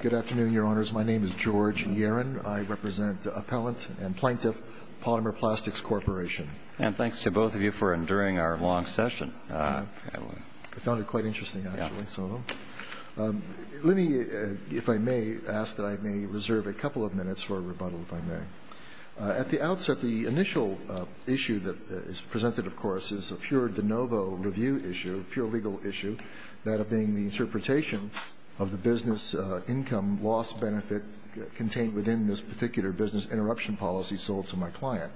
Good afternoon, Your Honors. My name is George Yarin. I represent Appellant and Plaintiff, Palmer Plastics Corporation. And thanks to both of you for enduring our long session. I found it quite interesting, actually, so let me, if I may, ask that I may reserve a couple of minutes for a rebuttal, if I may. At the outset, the initial issue that is presented, of course, is a pure de novo review issue, pure legal issue, that of being the interpretation of the business income loss benefit contained within this particular business interruption policy sold to my client.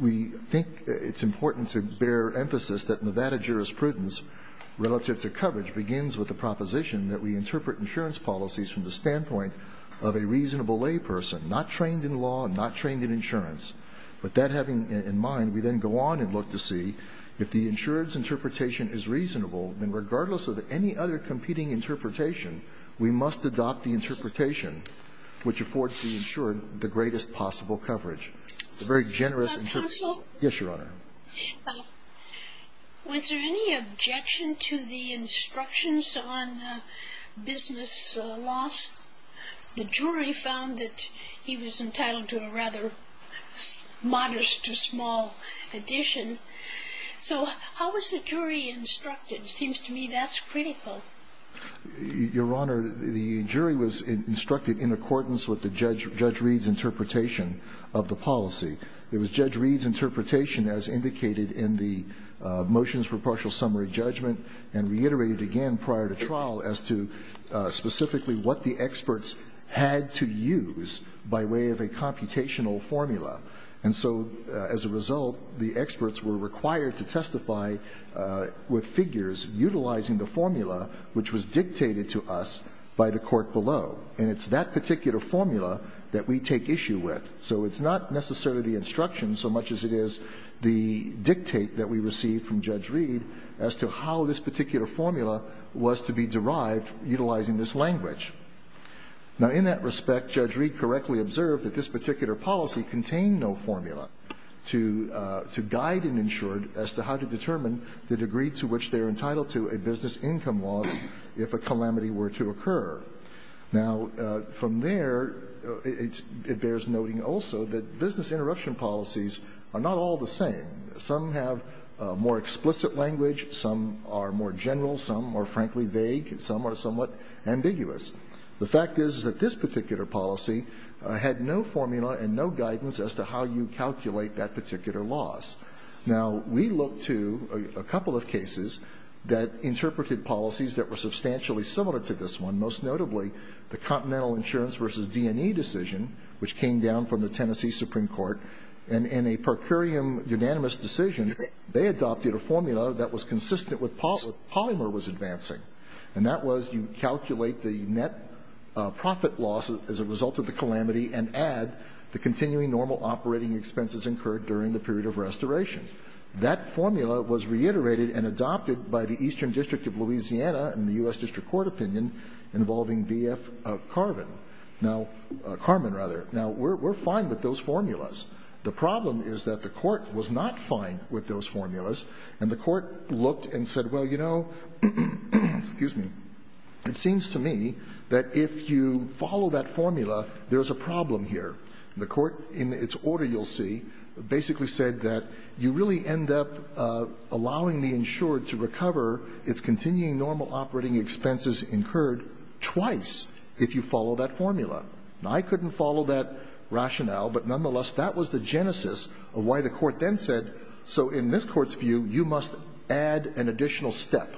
We think it's important to bear emphasis that Nevada jurisprudence, relative to coverage, begins with the proposition that we interpret insurance policies from the standpoint of a reasonable lay person, not trained in law and not trained in insurance. With that having in mind, we then go on and look to see if the insurance interpretation is reasonable, then regardless of any other competing interpretation, we must adopt the interpretation which affords the insured the greatest possible coverage. It's a very generous interpretation. Yes, Your Honor. Was there any objection to the instructions on business loss? The jury found that he was entitled to a rather modest or small addition. So how was the jury instructed? It seems to me that's critical. Your Honor, the jury was instructed in accordance with the Judge Reed's interpretation of the policy. It was Judge Reed's interpretation as indicated in the motions for partial summary judgment and reiterated again prior to trial as to specifically what the experts had to use by way of a computational formula. And so as a result, the experts were required to testify with figures utilizing the formula which was dictated to us by the court below. And it's that particular formula that we take issue with. So it's not necessarily the instructions so much as it is the dictate that we received from Judge Reed as to how this particular formula was to be derived utilizing this language. Now, in that respect, Judge Reed correctly observed that this particular policy contained no formula to guide an insured as to how to determine the degree to which they're entitled to a business income loss if a calamity were to occur. Now, from there, it bears noting also that business interruption policies are not all the same. Some have more explicit language. Some are more general. Some are, frankly, vague. Some are somewhat ambiguous. The fact is that this particular policy had no formula and no guidance as to how you calculate that particular loss. Now, we looked to a couple of cases that interpreted policies that were substantially similar to this one, most notably the Continental Insurance v. D&E decision, which came down from the Tennessee Supreme Court. And in a per curiam unanimous decision, they adopted a formula that was consistent with what Polymer was advancing. And that was you calculate the net profit loss as a result of the calamity and add the continuing normal operating expenses incurred during the period of restoration. That formula was reiterated and adopted by the Eastern District of Louisiana in the U.S. District Court opinion involving B.F. Carvin. Now, Carvin, rather. Now, we're fine with those formulas. The problem is that the Court was not fine with those formulas, and the Court looked and said, well, you know, excuse me, it seems to me that if you follow that formula, there is a problem here. And the Court, in its order you'll see, basically said that you really end up allowing the insured to recover its continuing normal operating expenses incurred twice if you follow that formula. Now, I couldn't follow that rationale, but nonetheless, that was the genesis of why the Court then said, so in this Court's view, you must add an additional step.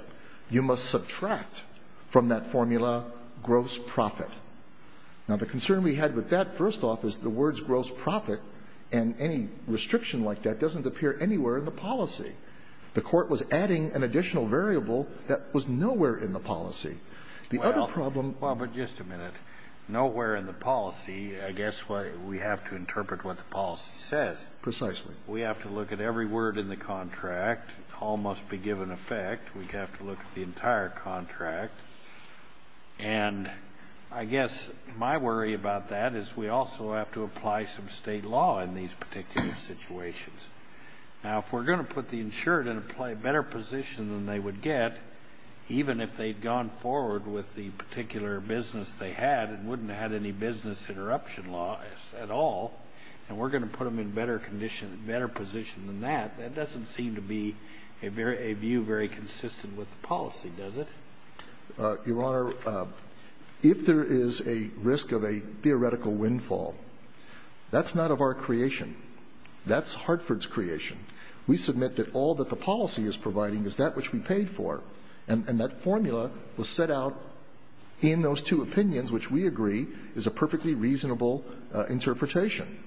You must subtract from that formula gross profit. Now, the concern we had with that, first off, is the words gross profit and any restriction like that doesn't appear anywhere in the policy. The Court was adding an additional variable that was nowhere in the policy. The other problem was the policy. Well, but just a minute. Nowhere in the policy? I guess we have to interpret what the policy says. Precisely. We have to look at every word in the contract. All must be given effect. We have to look at the entire contract. And I guess my worry about that is we also have to apply some state law in these particular situations. Now, if we're going to put the insured in a better position than they would get, even if they'd gone forward with the particular business they had and wouldn't have had any business interruption laws at all, and we're going to put them in better condition and better position than that, that doesn't seem to be a view very consistent with the policy, does it? Your Honor, if there is a risk of a theoretical windfall, that's not of our creation. That's Hartford's creation. We submit that all that the policy is providing is that which we paid for. And that formula was set out in those two opinions, which we agree is a perfectly reasonable interpretation.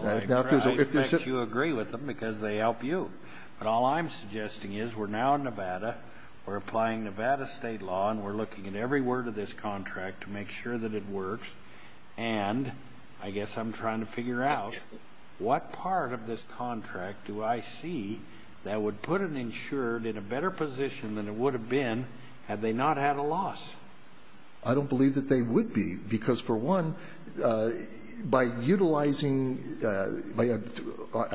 Well, I expect you agree with them because they help you. But all I'm suggesting is we're now in Nevada, we're applying Nevada state law, and we're looking at every word of this contract to make sure that it works. And I guess I'm trying to figure out what part of this contract do I see that would put an insured in a better position than it would have been had they not had a loss? I don't believe that they would be because, for one, by utilizing by a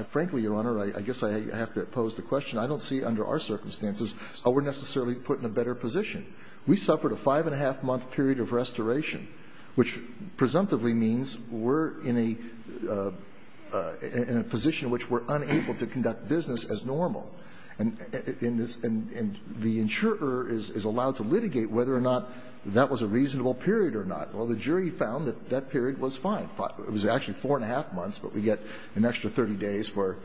– frankly, Your Honor, I guess I have to pose the question. I don't see under our circumstances how we're necessarily put in a better position. We suffered a five-and-a-half-month period of restoration, which presumptively means we're in a position in which we're unable to conduct business as normal. And the insurer is allowed to litigate whether or not that was a reasonable period or not. Well, the jury found that that period was fine. It was actually four-and-a-half months, but we get an extra 30 days for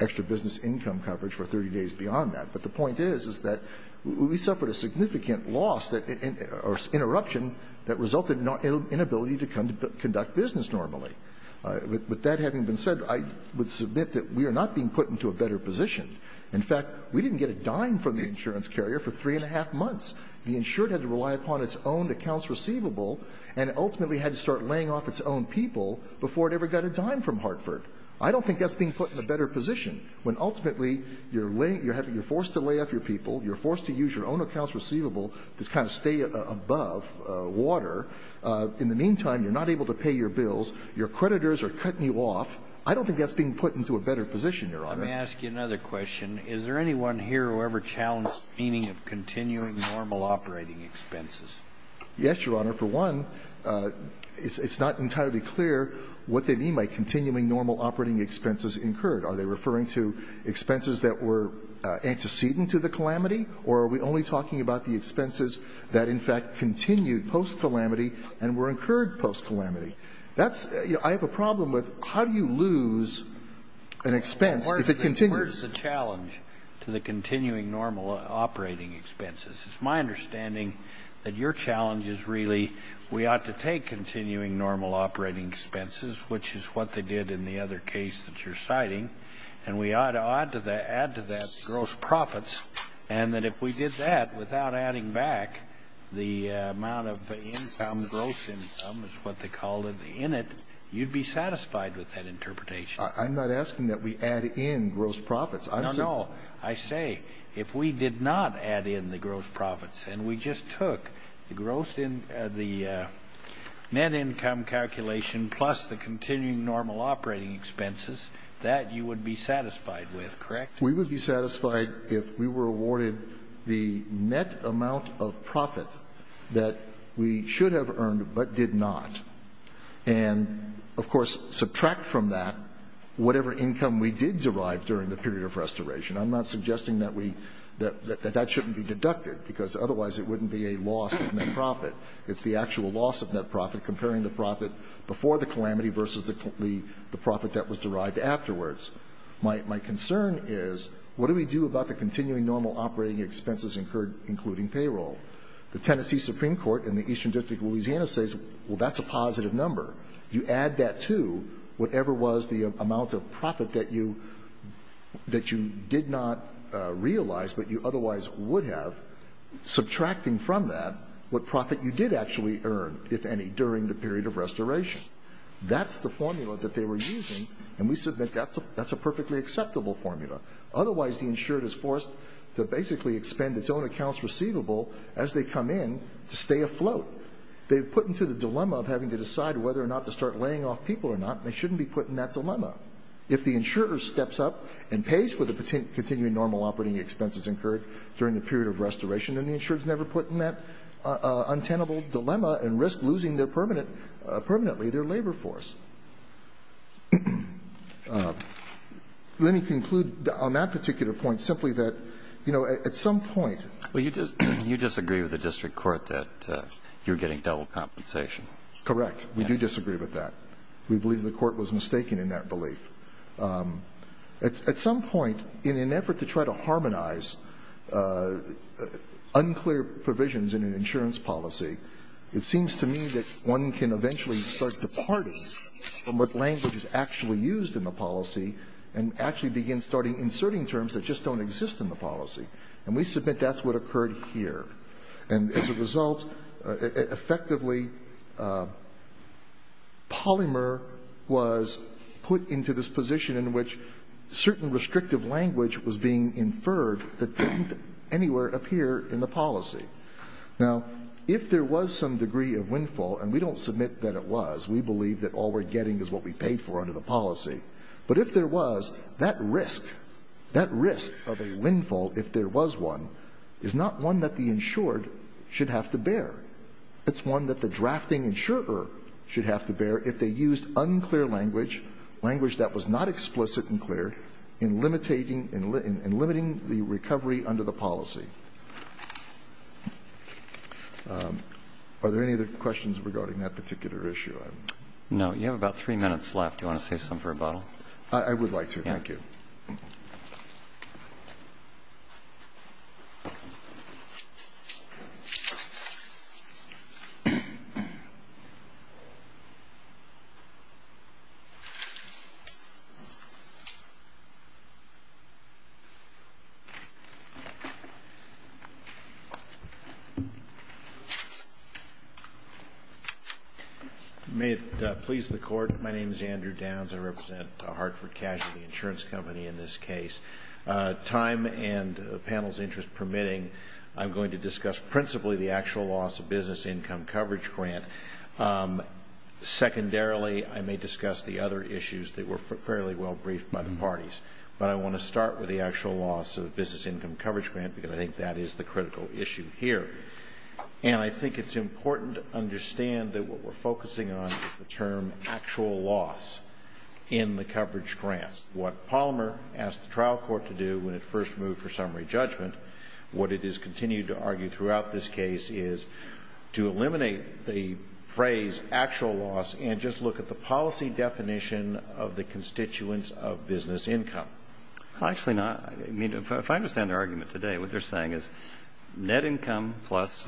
extra business income coverage for 30 days beyond that. But the point is, is that we suffered a significant loss or interruption that resulted in inability to conduct business normally. With that having been said, I would submit that we are not being put into a better position. In fact, we didn't get a dime from the insurance carrier for three-and-a-half months. The insured had to rely upon its own accounts receivable and ultimately had to start laying off its own people before it ever got a dime from Hartford. I don't think that's being put in a better position, when ultimately you're having – you're forced to lay off your people, you're forced to use your own accounts receivable to kind of stay above water. In the meantime, you're not able to pay your bills. Your creditors are cutting you off. I don't think that's being put into a better position, Your Honor. Let me ask you another question. Is there anyone here who ever challenged the meaning of continuing normal operating expenses? Yes, Your Honor. For one, it's not entirely clear what they mean by continuing normal operating expenses incurred. Are they referring to expenses that were antecedent to the calamity, or are we only talking about the expenses that, in fact, continued post-calamity and were incurred post-calamity? That's – I have a problem with how do you lose an expense if it continues? Where's the challenge to the continuing normal operating expenses? It's my understanding that your challenge is really we ought to take continuing normal operating expenses, which is what they did in the other case that you're citing, and we ought to add to that gross profits. And that if we did that without adding back the amount of income, gross income is what they called it, in it, you'd be satisfied with that interpretation. I'm not asking that we add in gross profits. No, no. I say if we did not add in the gross profits and we just took the gross – the net income calculation plus the continuing normal operating expenses, that you would be satisfied with, correct? We would be satisfied if we were awarded the net amount of profit that we should have earned but did not, and, of course, subtract from that whatever income we did derive during the period of restoration. I'm not suggesting that we – that that shouldn't be deducted, because otherwise it wouldn't be a loss of net profit. It's the actual loss of net profit comparing the profit before the calamity versus the profit that was derived afterwards. My concern is, what do we do about the continuing normal operating expenses incurred, including payroll? The Tennessee Supreme Court in the Eastern District of Louisiana says, well, that's a positive number. You add that to whatever was the amount of profit that you – that you did not realize but you otherwise would have, subtracting from that what profit you did actually earn, if any, during the period of restoration. That's the formula that they were using, and we submit that's a perfectly acceptable formula. Otherwise, the insured is forced to basically expend its own accounts receivable as they come in to stay afloat. They've put into the dilemma of having to decide whether or not to start laying off people or not, and they shouldn't be put in that dilemma. If the insurer steps up and pays for the continuing normal operating expenses incurred during the period of restoration, then the insurer is never put in that Let me conclude on that particular point simply that, you know, at some point Well, you disagree with the district court that you're getting double compensation. Correct. We do disagree with that. We believe the court was mistaken in that belief. At some point, in an effort to try to harmonize unclear provisions in an insurance policy, it seems to me that one can eventually start departing from what language is actually used in the policy and actually begin starting inserting terms that just don't exist in the policy, and we submit that's what occurred here. And as a result, effectively, Polymer was put into this position in which certain restrictive language was being inferred that didn't anywhere appear in the policy. Now, if there was some degree of windfall, and we don't submit that it was. We believe that all we're getting is what we paid for under the policy. But if there was, that risk, that risk of a windfall, if there was one, is not one that the insured should have to bear. It's one that the drafting insurer should have to bear if they used unclear language, language that was not explicit and clear, in limiting the recovery under the policy. Are there any other questions regarding that particular issue? No. You have about three minutes left. Do you want to save some for a bottle? I would like to. Thank you. You may have pleased the court. My name is Andrew Downs. I represent Hartford Cash, the insurance company in this case. Time and the panel's interest permitting, I'm going to discuss principally the actual loss of business income coverage grant. Secondarily, I may discuss the other issues that were fairly well briefed by the parties. But I want to start with the actual loss of business income coverage grant, because I think that is the critical issue here. And I think it's important to understand that what we're focusing on is the term actual loss in the coverage grant. What Palmer asked the trial court to do when it first moved for summary judgment, what it has continued to argue throughout this case is to eliminate the phrase actual loss and just look at the policy definition of the constituents of business income. Well, actually not. I mean, if I understand their argument today, what they're saying is net income plus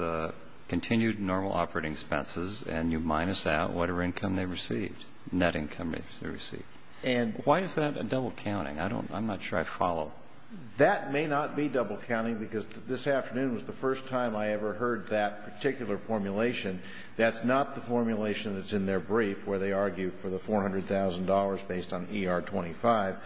continued normal operating expenses and you minus out whatever income they received, net income they received. And why is that a double counting? I don't know. I'm not sure I follow. That may not be double counting because this afternoon was the first time I ever heard that particular formulation. That's not the formulation that's in their brief where they argue for the $400,000 based on ER-25.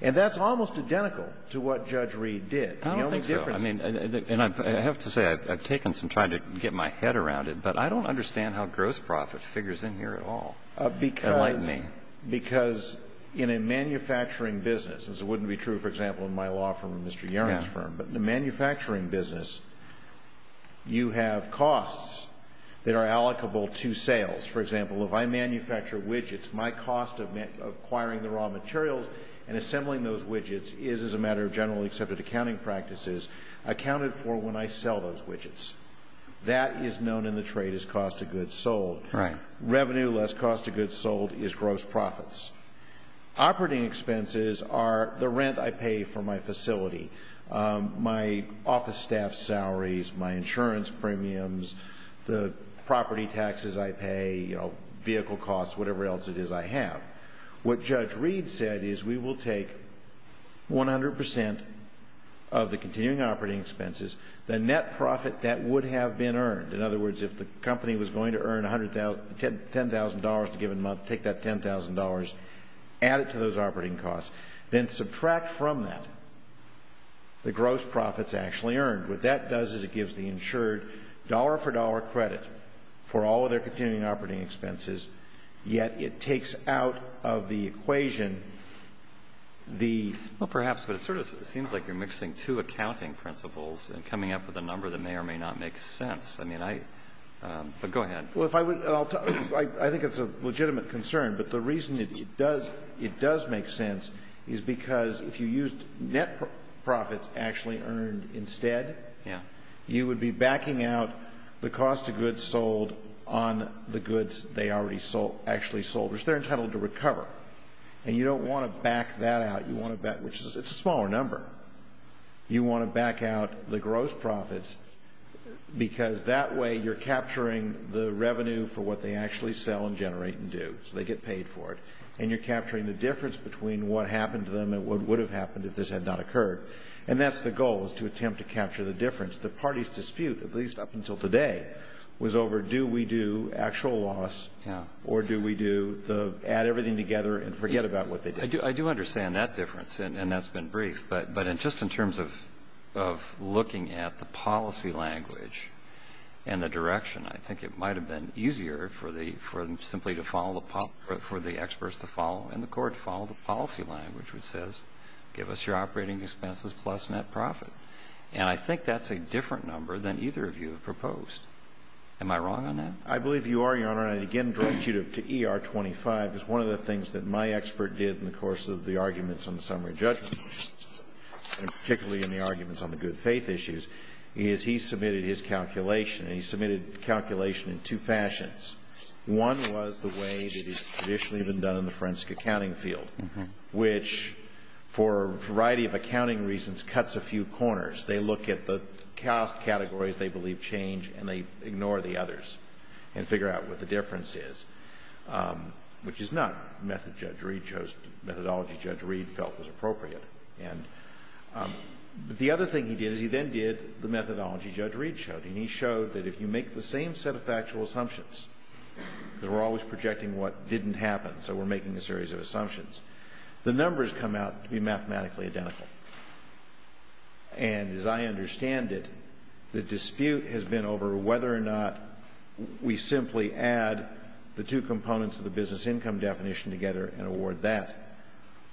And that's almost identical to what Judge Reed did. I don't think so. I mean, and I have to say I've taken some time to get my head around it, but I don't understand how gross profit figures in here at all. Enlighten me. Because in a manufacturing business, as it wouldn't be true, for example, in my law firm and Mr. Yarren's firm, but in a manufacturing business, you have costs that are allocable to sales. For example, if I manufacture widgets, my cost of acquiring the raw materials and assembling those widgets is, as a matter of generally accepted accounting practices, accounted for when I sell those widgets. That is known in the trade as cost of goods sold. Right. Revenue less cost of goods sold is gross profits. Operating expenses are the rent I pay for my facility, my office staff salaries, my insurance premiums, the property taxes I pay, vehicle costs, whatever else it is I have. What Judge Reed said is we will take 100% of the continuing operating expenses, the net profit that would have been earned. In other words, if the company was going to earn $10,000 a given month, take that $10,000, add it to those operating costs, then subtract from that the gross profits actually earned. What that does is it gives the insured dollar for dollar credit for all of their continuing operating expenses, yet it takes out of the equation the ---- Well, perhaps, but it sort of seems like you're mixing two accounting principles and coming up with a number that may or may not make sense. I mean, I ---- but go ahead. Well, if I would ---- I think it's a legitimate concern, but the reason it does make sense is because if you used net profits actually earned instead, you would be backing out the cost of goods sold on the goods they already actually sold, which they're entitled to recover. And you don't want to back that out. You want to back ---- which is a smaller number. You want to back out the gross profits because that way you're capturing the revenue for what they actually sell and generate and do. So they get paid for it. And you're capturing the difference between what happened to them and what would have happened if this had not occurred. And that's the goal, is to attempt to capture the difference. The party's dispute, at least up until today, was over do we do actual loss or do we do the add everything together and forget about what they did. I do understand that difference, and that's been brief. But just in terms of looking at the policy language and the direction, I think it might have been easier for the ---- for them simply to follow the ---- for the experts to follow and the court to follow the policy language, which says give us your operating expenses plus net profit. And I think that's a different number than either of you have proposed. Am I wrong on that? I believe you are, Your Honor. And I again direct you to ER-25, because one of the things that my expert did in the course of the arguments on the summary judgment, and particularly in the arguments on the good faith issues, is he submitted his calculation. And he submitted the calculation in two fashions. One was the way that it's traditionally been done in the forensic accounting field, which for a variety of accounting reasons cuts a few corners. They look at the cost categories they believe change, and they ignore the others and figure out what the difference is, which is not method Judge Reed chose, methodology Judge Reed felt was appropriate. And the other thing he did is he then did the methodology Judge Reed showed. And he showed that if you make the same set of factual assumptions, because we're always projecting what didn't happen, so we're making a series of assumptions, the numbers come out to be mathematically identical. And as I understand it, the dispute has been over whether or not we simply add the two components of the business income definition together and award that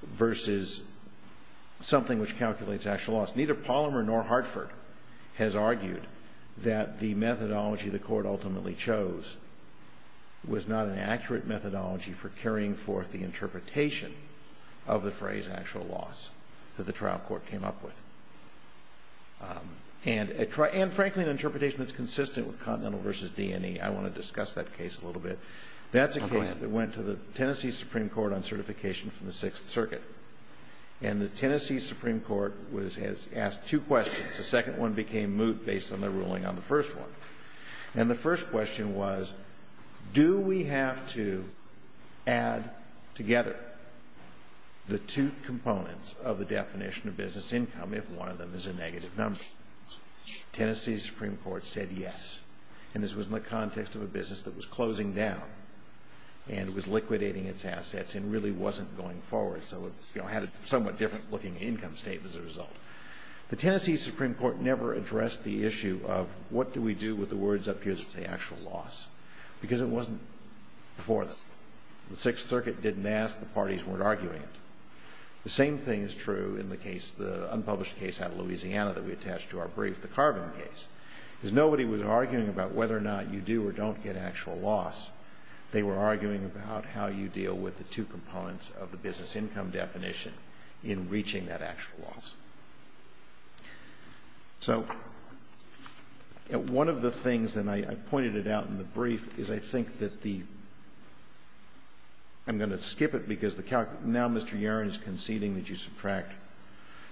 versus something which calculates actual loss. Neither Palmer nor Hartford has argued that the methodology the Court ultimately chose was not an accurate methodology for carrying forth the interpretation of the phrase actual loss that the trial court came up with. And, frankly, an interpretation that's consistent with Continental versus D&E. I want to discuss that case a little bit. That's a case that went to the Tennessee Supreme Court on certification from the Sixth Circuit. And the Tennessee Supreme Court has asked two questions. The second one became moot based on their ruling on the first one. And the first question was, do we have to add together the two components of the definition of business income if one of them is a negative number? Tennessee Supreme Court said yes. And this was in the context of a business that was closing down and was liquidating its assets and really wasn't going forward. So it had a somewhat different looking income statement as a result. The Tennessee Supreme Court never addressed the issue of what do we do with the words up here that say actual loss because it wasn't before. The Sixth Circuit didn't ask. The parties weren't arguing it. The same thing is true in the case, the unpublished case out of Louisiana that we attached to our brief, the Carbon case. Because nobody was arguing about whether or not you do or don't get actual loss. They were arguing about how you deal with the two components of the business income definition in reaching that actual loss. So one of the things, and I pointed it out in the brief, is I think that the – I'm going to skip it because now Mr. Yarren is conceding that you subtract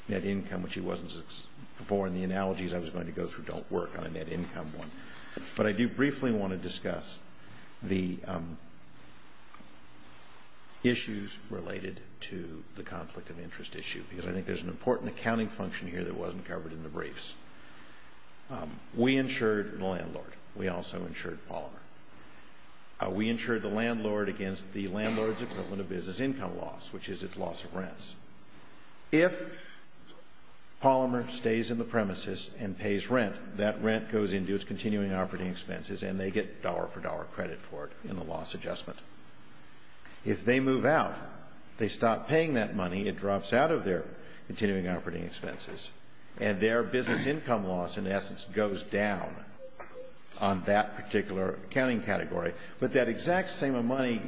net income, which he wasn't before in the analogies I was going to go through don't work on a net income one. But I do briefly want to discuss the issues related to the conflict of interest issue because I think there's an important accounting function here that wasn't covered in the briefs. We insured the landlord. We also insured Palmer. We insured the landlord against the landlord's equivalent of business income loss, which is its loss of rents. If Palmer stays in the premises and pays rent, that rent goes into its continuing operating expenses and they get dollar-for-dollar credit for it in the loss adjustment. If they move out, they stop paying that money. It drops out of their continuing operating expenses. And their business income loss, in essence, goes down on that particular accounting category. But that exact same amount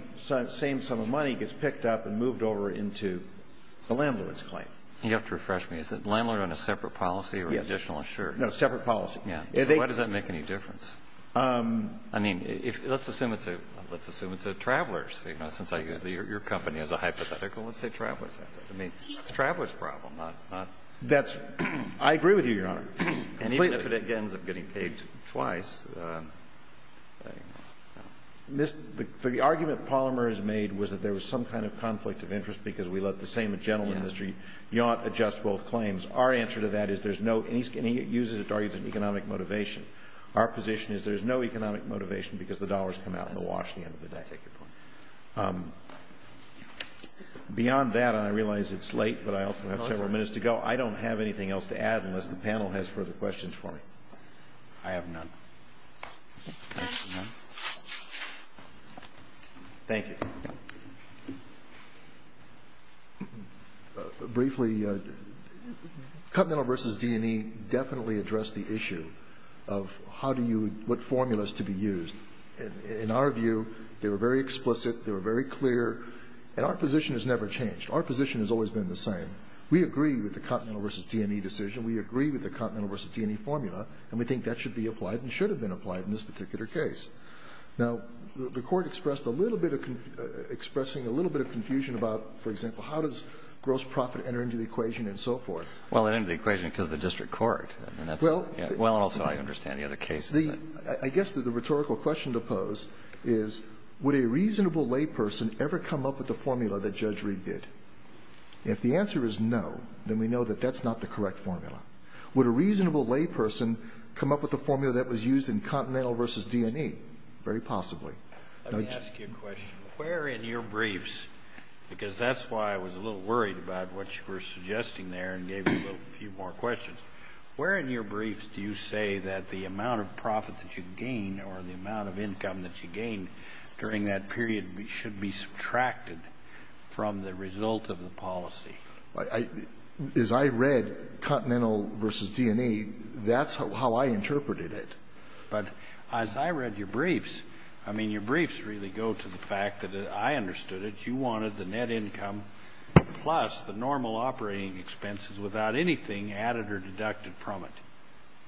of money gets picked up and moved over into the landlord's claim. You have to refresh me. Is the landlord on a separate policy or additional insurance? No, separate policy. So why does that make any difference? I mean, let's assume it's a traveler's. You know, since I use your company as a hypothetical, let's say traveler's. I mean, it's a traveler's problem. That's – I agree with you, Your Honor. And even if it ends up getting paid twice, you know. The argument Palmer has made was that there was some kind of conflict of interest because we let the same gentleman, Mr. Yaunt, adjust both claims. Our answer to that is there's no – and he uses it to argue there's economic motivation. Our position is there's no economic motivation because the dollars come out in the wash at the end of the day. I take your point. Beyond that, and I realize it's late, but I also have several minutes to go, I don't have anything else to add unless the panel has further questions for me. I have none. None. Thank you. Briefly, Continental v. D&E definitely addressed the issue of how do you – what formulas to be used. In our view, they were very explicit, they were very clear, and our position has never changed. Our position has always been the same. We agree with the Continental v. D&E decision. We agree with the Continental v. D&E formula, and we think that should be applied and should have been applied in this particular case. Now, the Court expressed a little bit of – expressing a little bit of confusion about, for example, how does gross profit enter into the equation and so forth. Well, it entered the equation because of the district court, and that's – Well – Well, and also I understand the other case. I guess that the rhetorical question to pose is would a reasonable layperson ever come up with a formula that Judge Reed did? If the answer is no, then we know that that's not the correct formula. Would a reasonable layperson come up with a formula that was used in Continental v. D&E? Very possibly. Let me ask you a question. Where in your briefs, because that's why I was a little worried about what you were suggesting there and gave you a few more questions, where in your briefs do you say that the amount of profit that you gain or the amount of income that you gain during that period should be subtracted from the result of the policy? As I read Continental v. D&E, that's how I interpreted it. But as I read your briefs, I mean, your briefs really go to the fact that I understood it. You wanted the net income plus the normal operating expenses without anything added or deducted from it.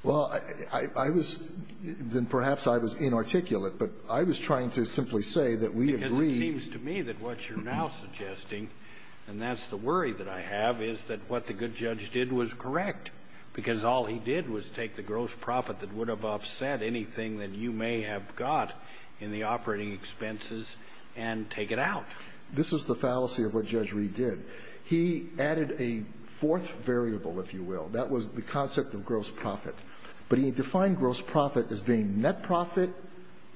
Well, I was – then perhaps I was inarticulate, but I was trying to simply say that we agreed – Because it seems to me that what you're now suggesting, and that's the worry that I have, is that what the good judge did was correct, because all he did was take the gross profit that would have offset anything that you may have got in the operating expenses and take it out. This is the fallacy of what Judge Reed did. He added a fourth variable, if you will. That was the concept of gross profit. But he defined gross profit as being net profit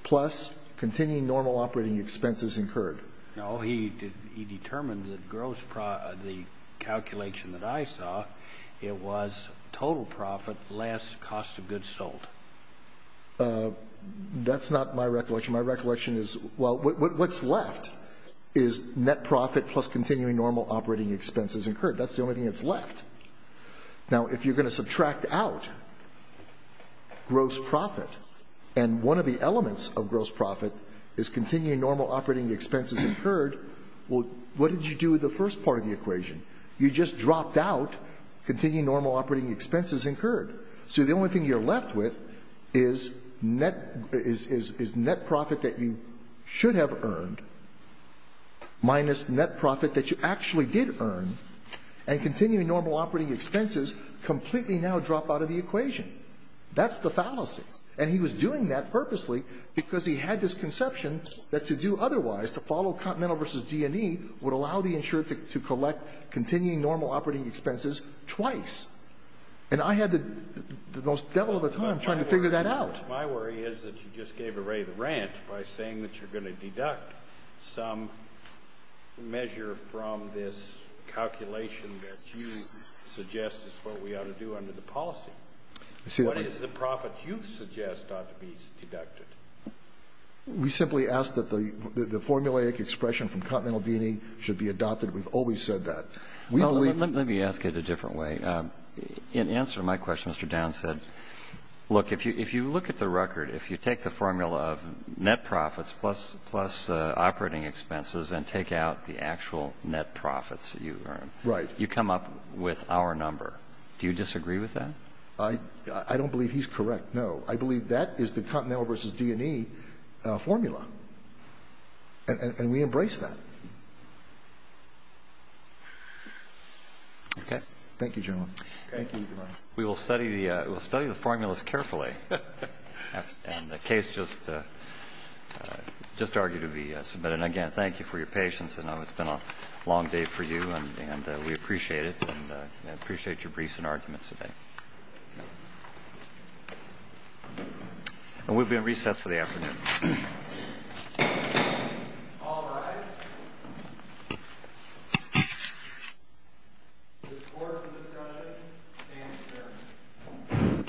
plus continuing normal operating expenses incurred. No. He determined that gross – the calculation that I saw, it was total profit less than the cost of goods sold. That's not my recollection. My recollection is, well, what's left is net profit plus continuing normal operating expenses incurred. That's the only thing that's left. Now, if you're going to subtract out gross profit, and one of the elements of gross profit is continuing normal operating expenses incurred, well, what did you do with the first part of the equation? You just dropped out continuing normal operating expenses incurred. So the only thing you're left with is net – is net profit that you should have earned minus net profit that you actually did earn. And continuing normal operating expenses completely now drop out of the equation. That's the fallacy. And he was doing that purposely because he had this conception that to do otherwise, to follow Continental v. G&E, would allow the insurer to collect continuing normal operating expenses twice. And I had the most devil of a time trying to figure that out. My worry is that you just gave away the ranch by saying that you're going to deduct some measure from this calculation that you suggest is what we ought to do under the policy. What is the profit you suggest ought to be deducted? We simply ask that the formulaic expression from Continental v. G&E should be adopted. We've always said that. Well, let me ask it a different way. In answer to my question, Mr. Downs said, look, if you look at the record, if you take the formula of net profits plus operating expenses and take out the actual net profits that you earn, you come up with our number. Do you disagree with that? I don't believe he's correct, no. I believe that is the Continental v. G&E formula. And we embrace that. Okay. Thank you, gentlemen. We will study the formulas carefully. And the case just argued to be submitted. And, again, thank you for your patience. I know it's been a long day for you. And we appreciate it and appreciate your briefs and arguments today. And we'll be at recess for the afternoon. All rise. The floor is for discussion. Stand to be served. Thank you.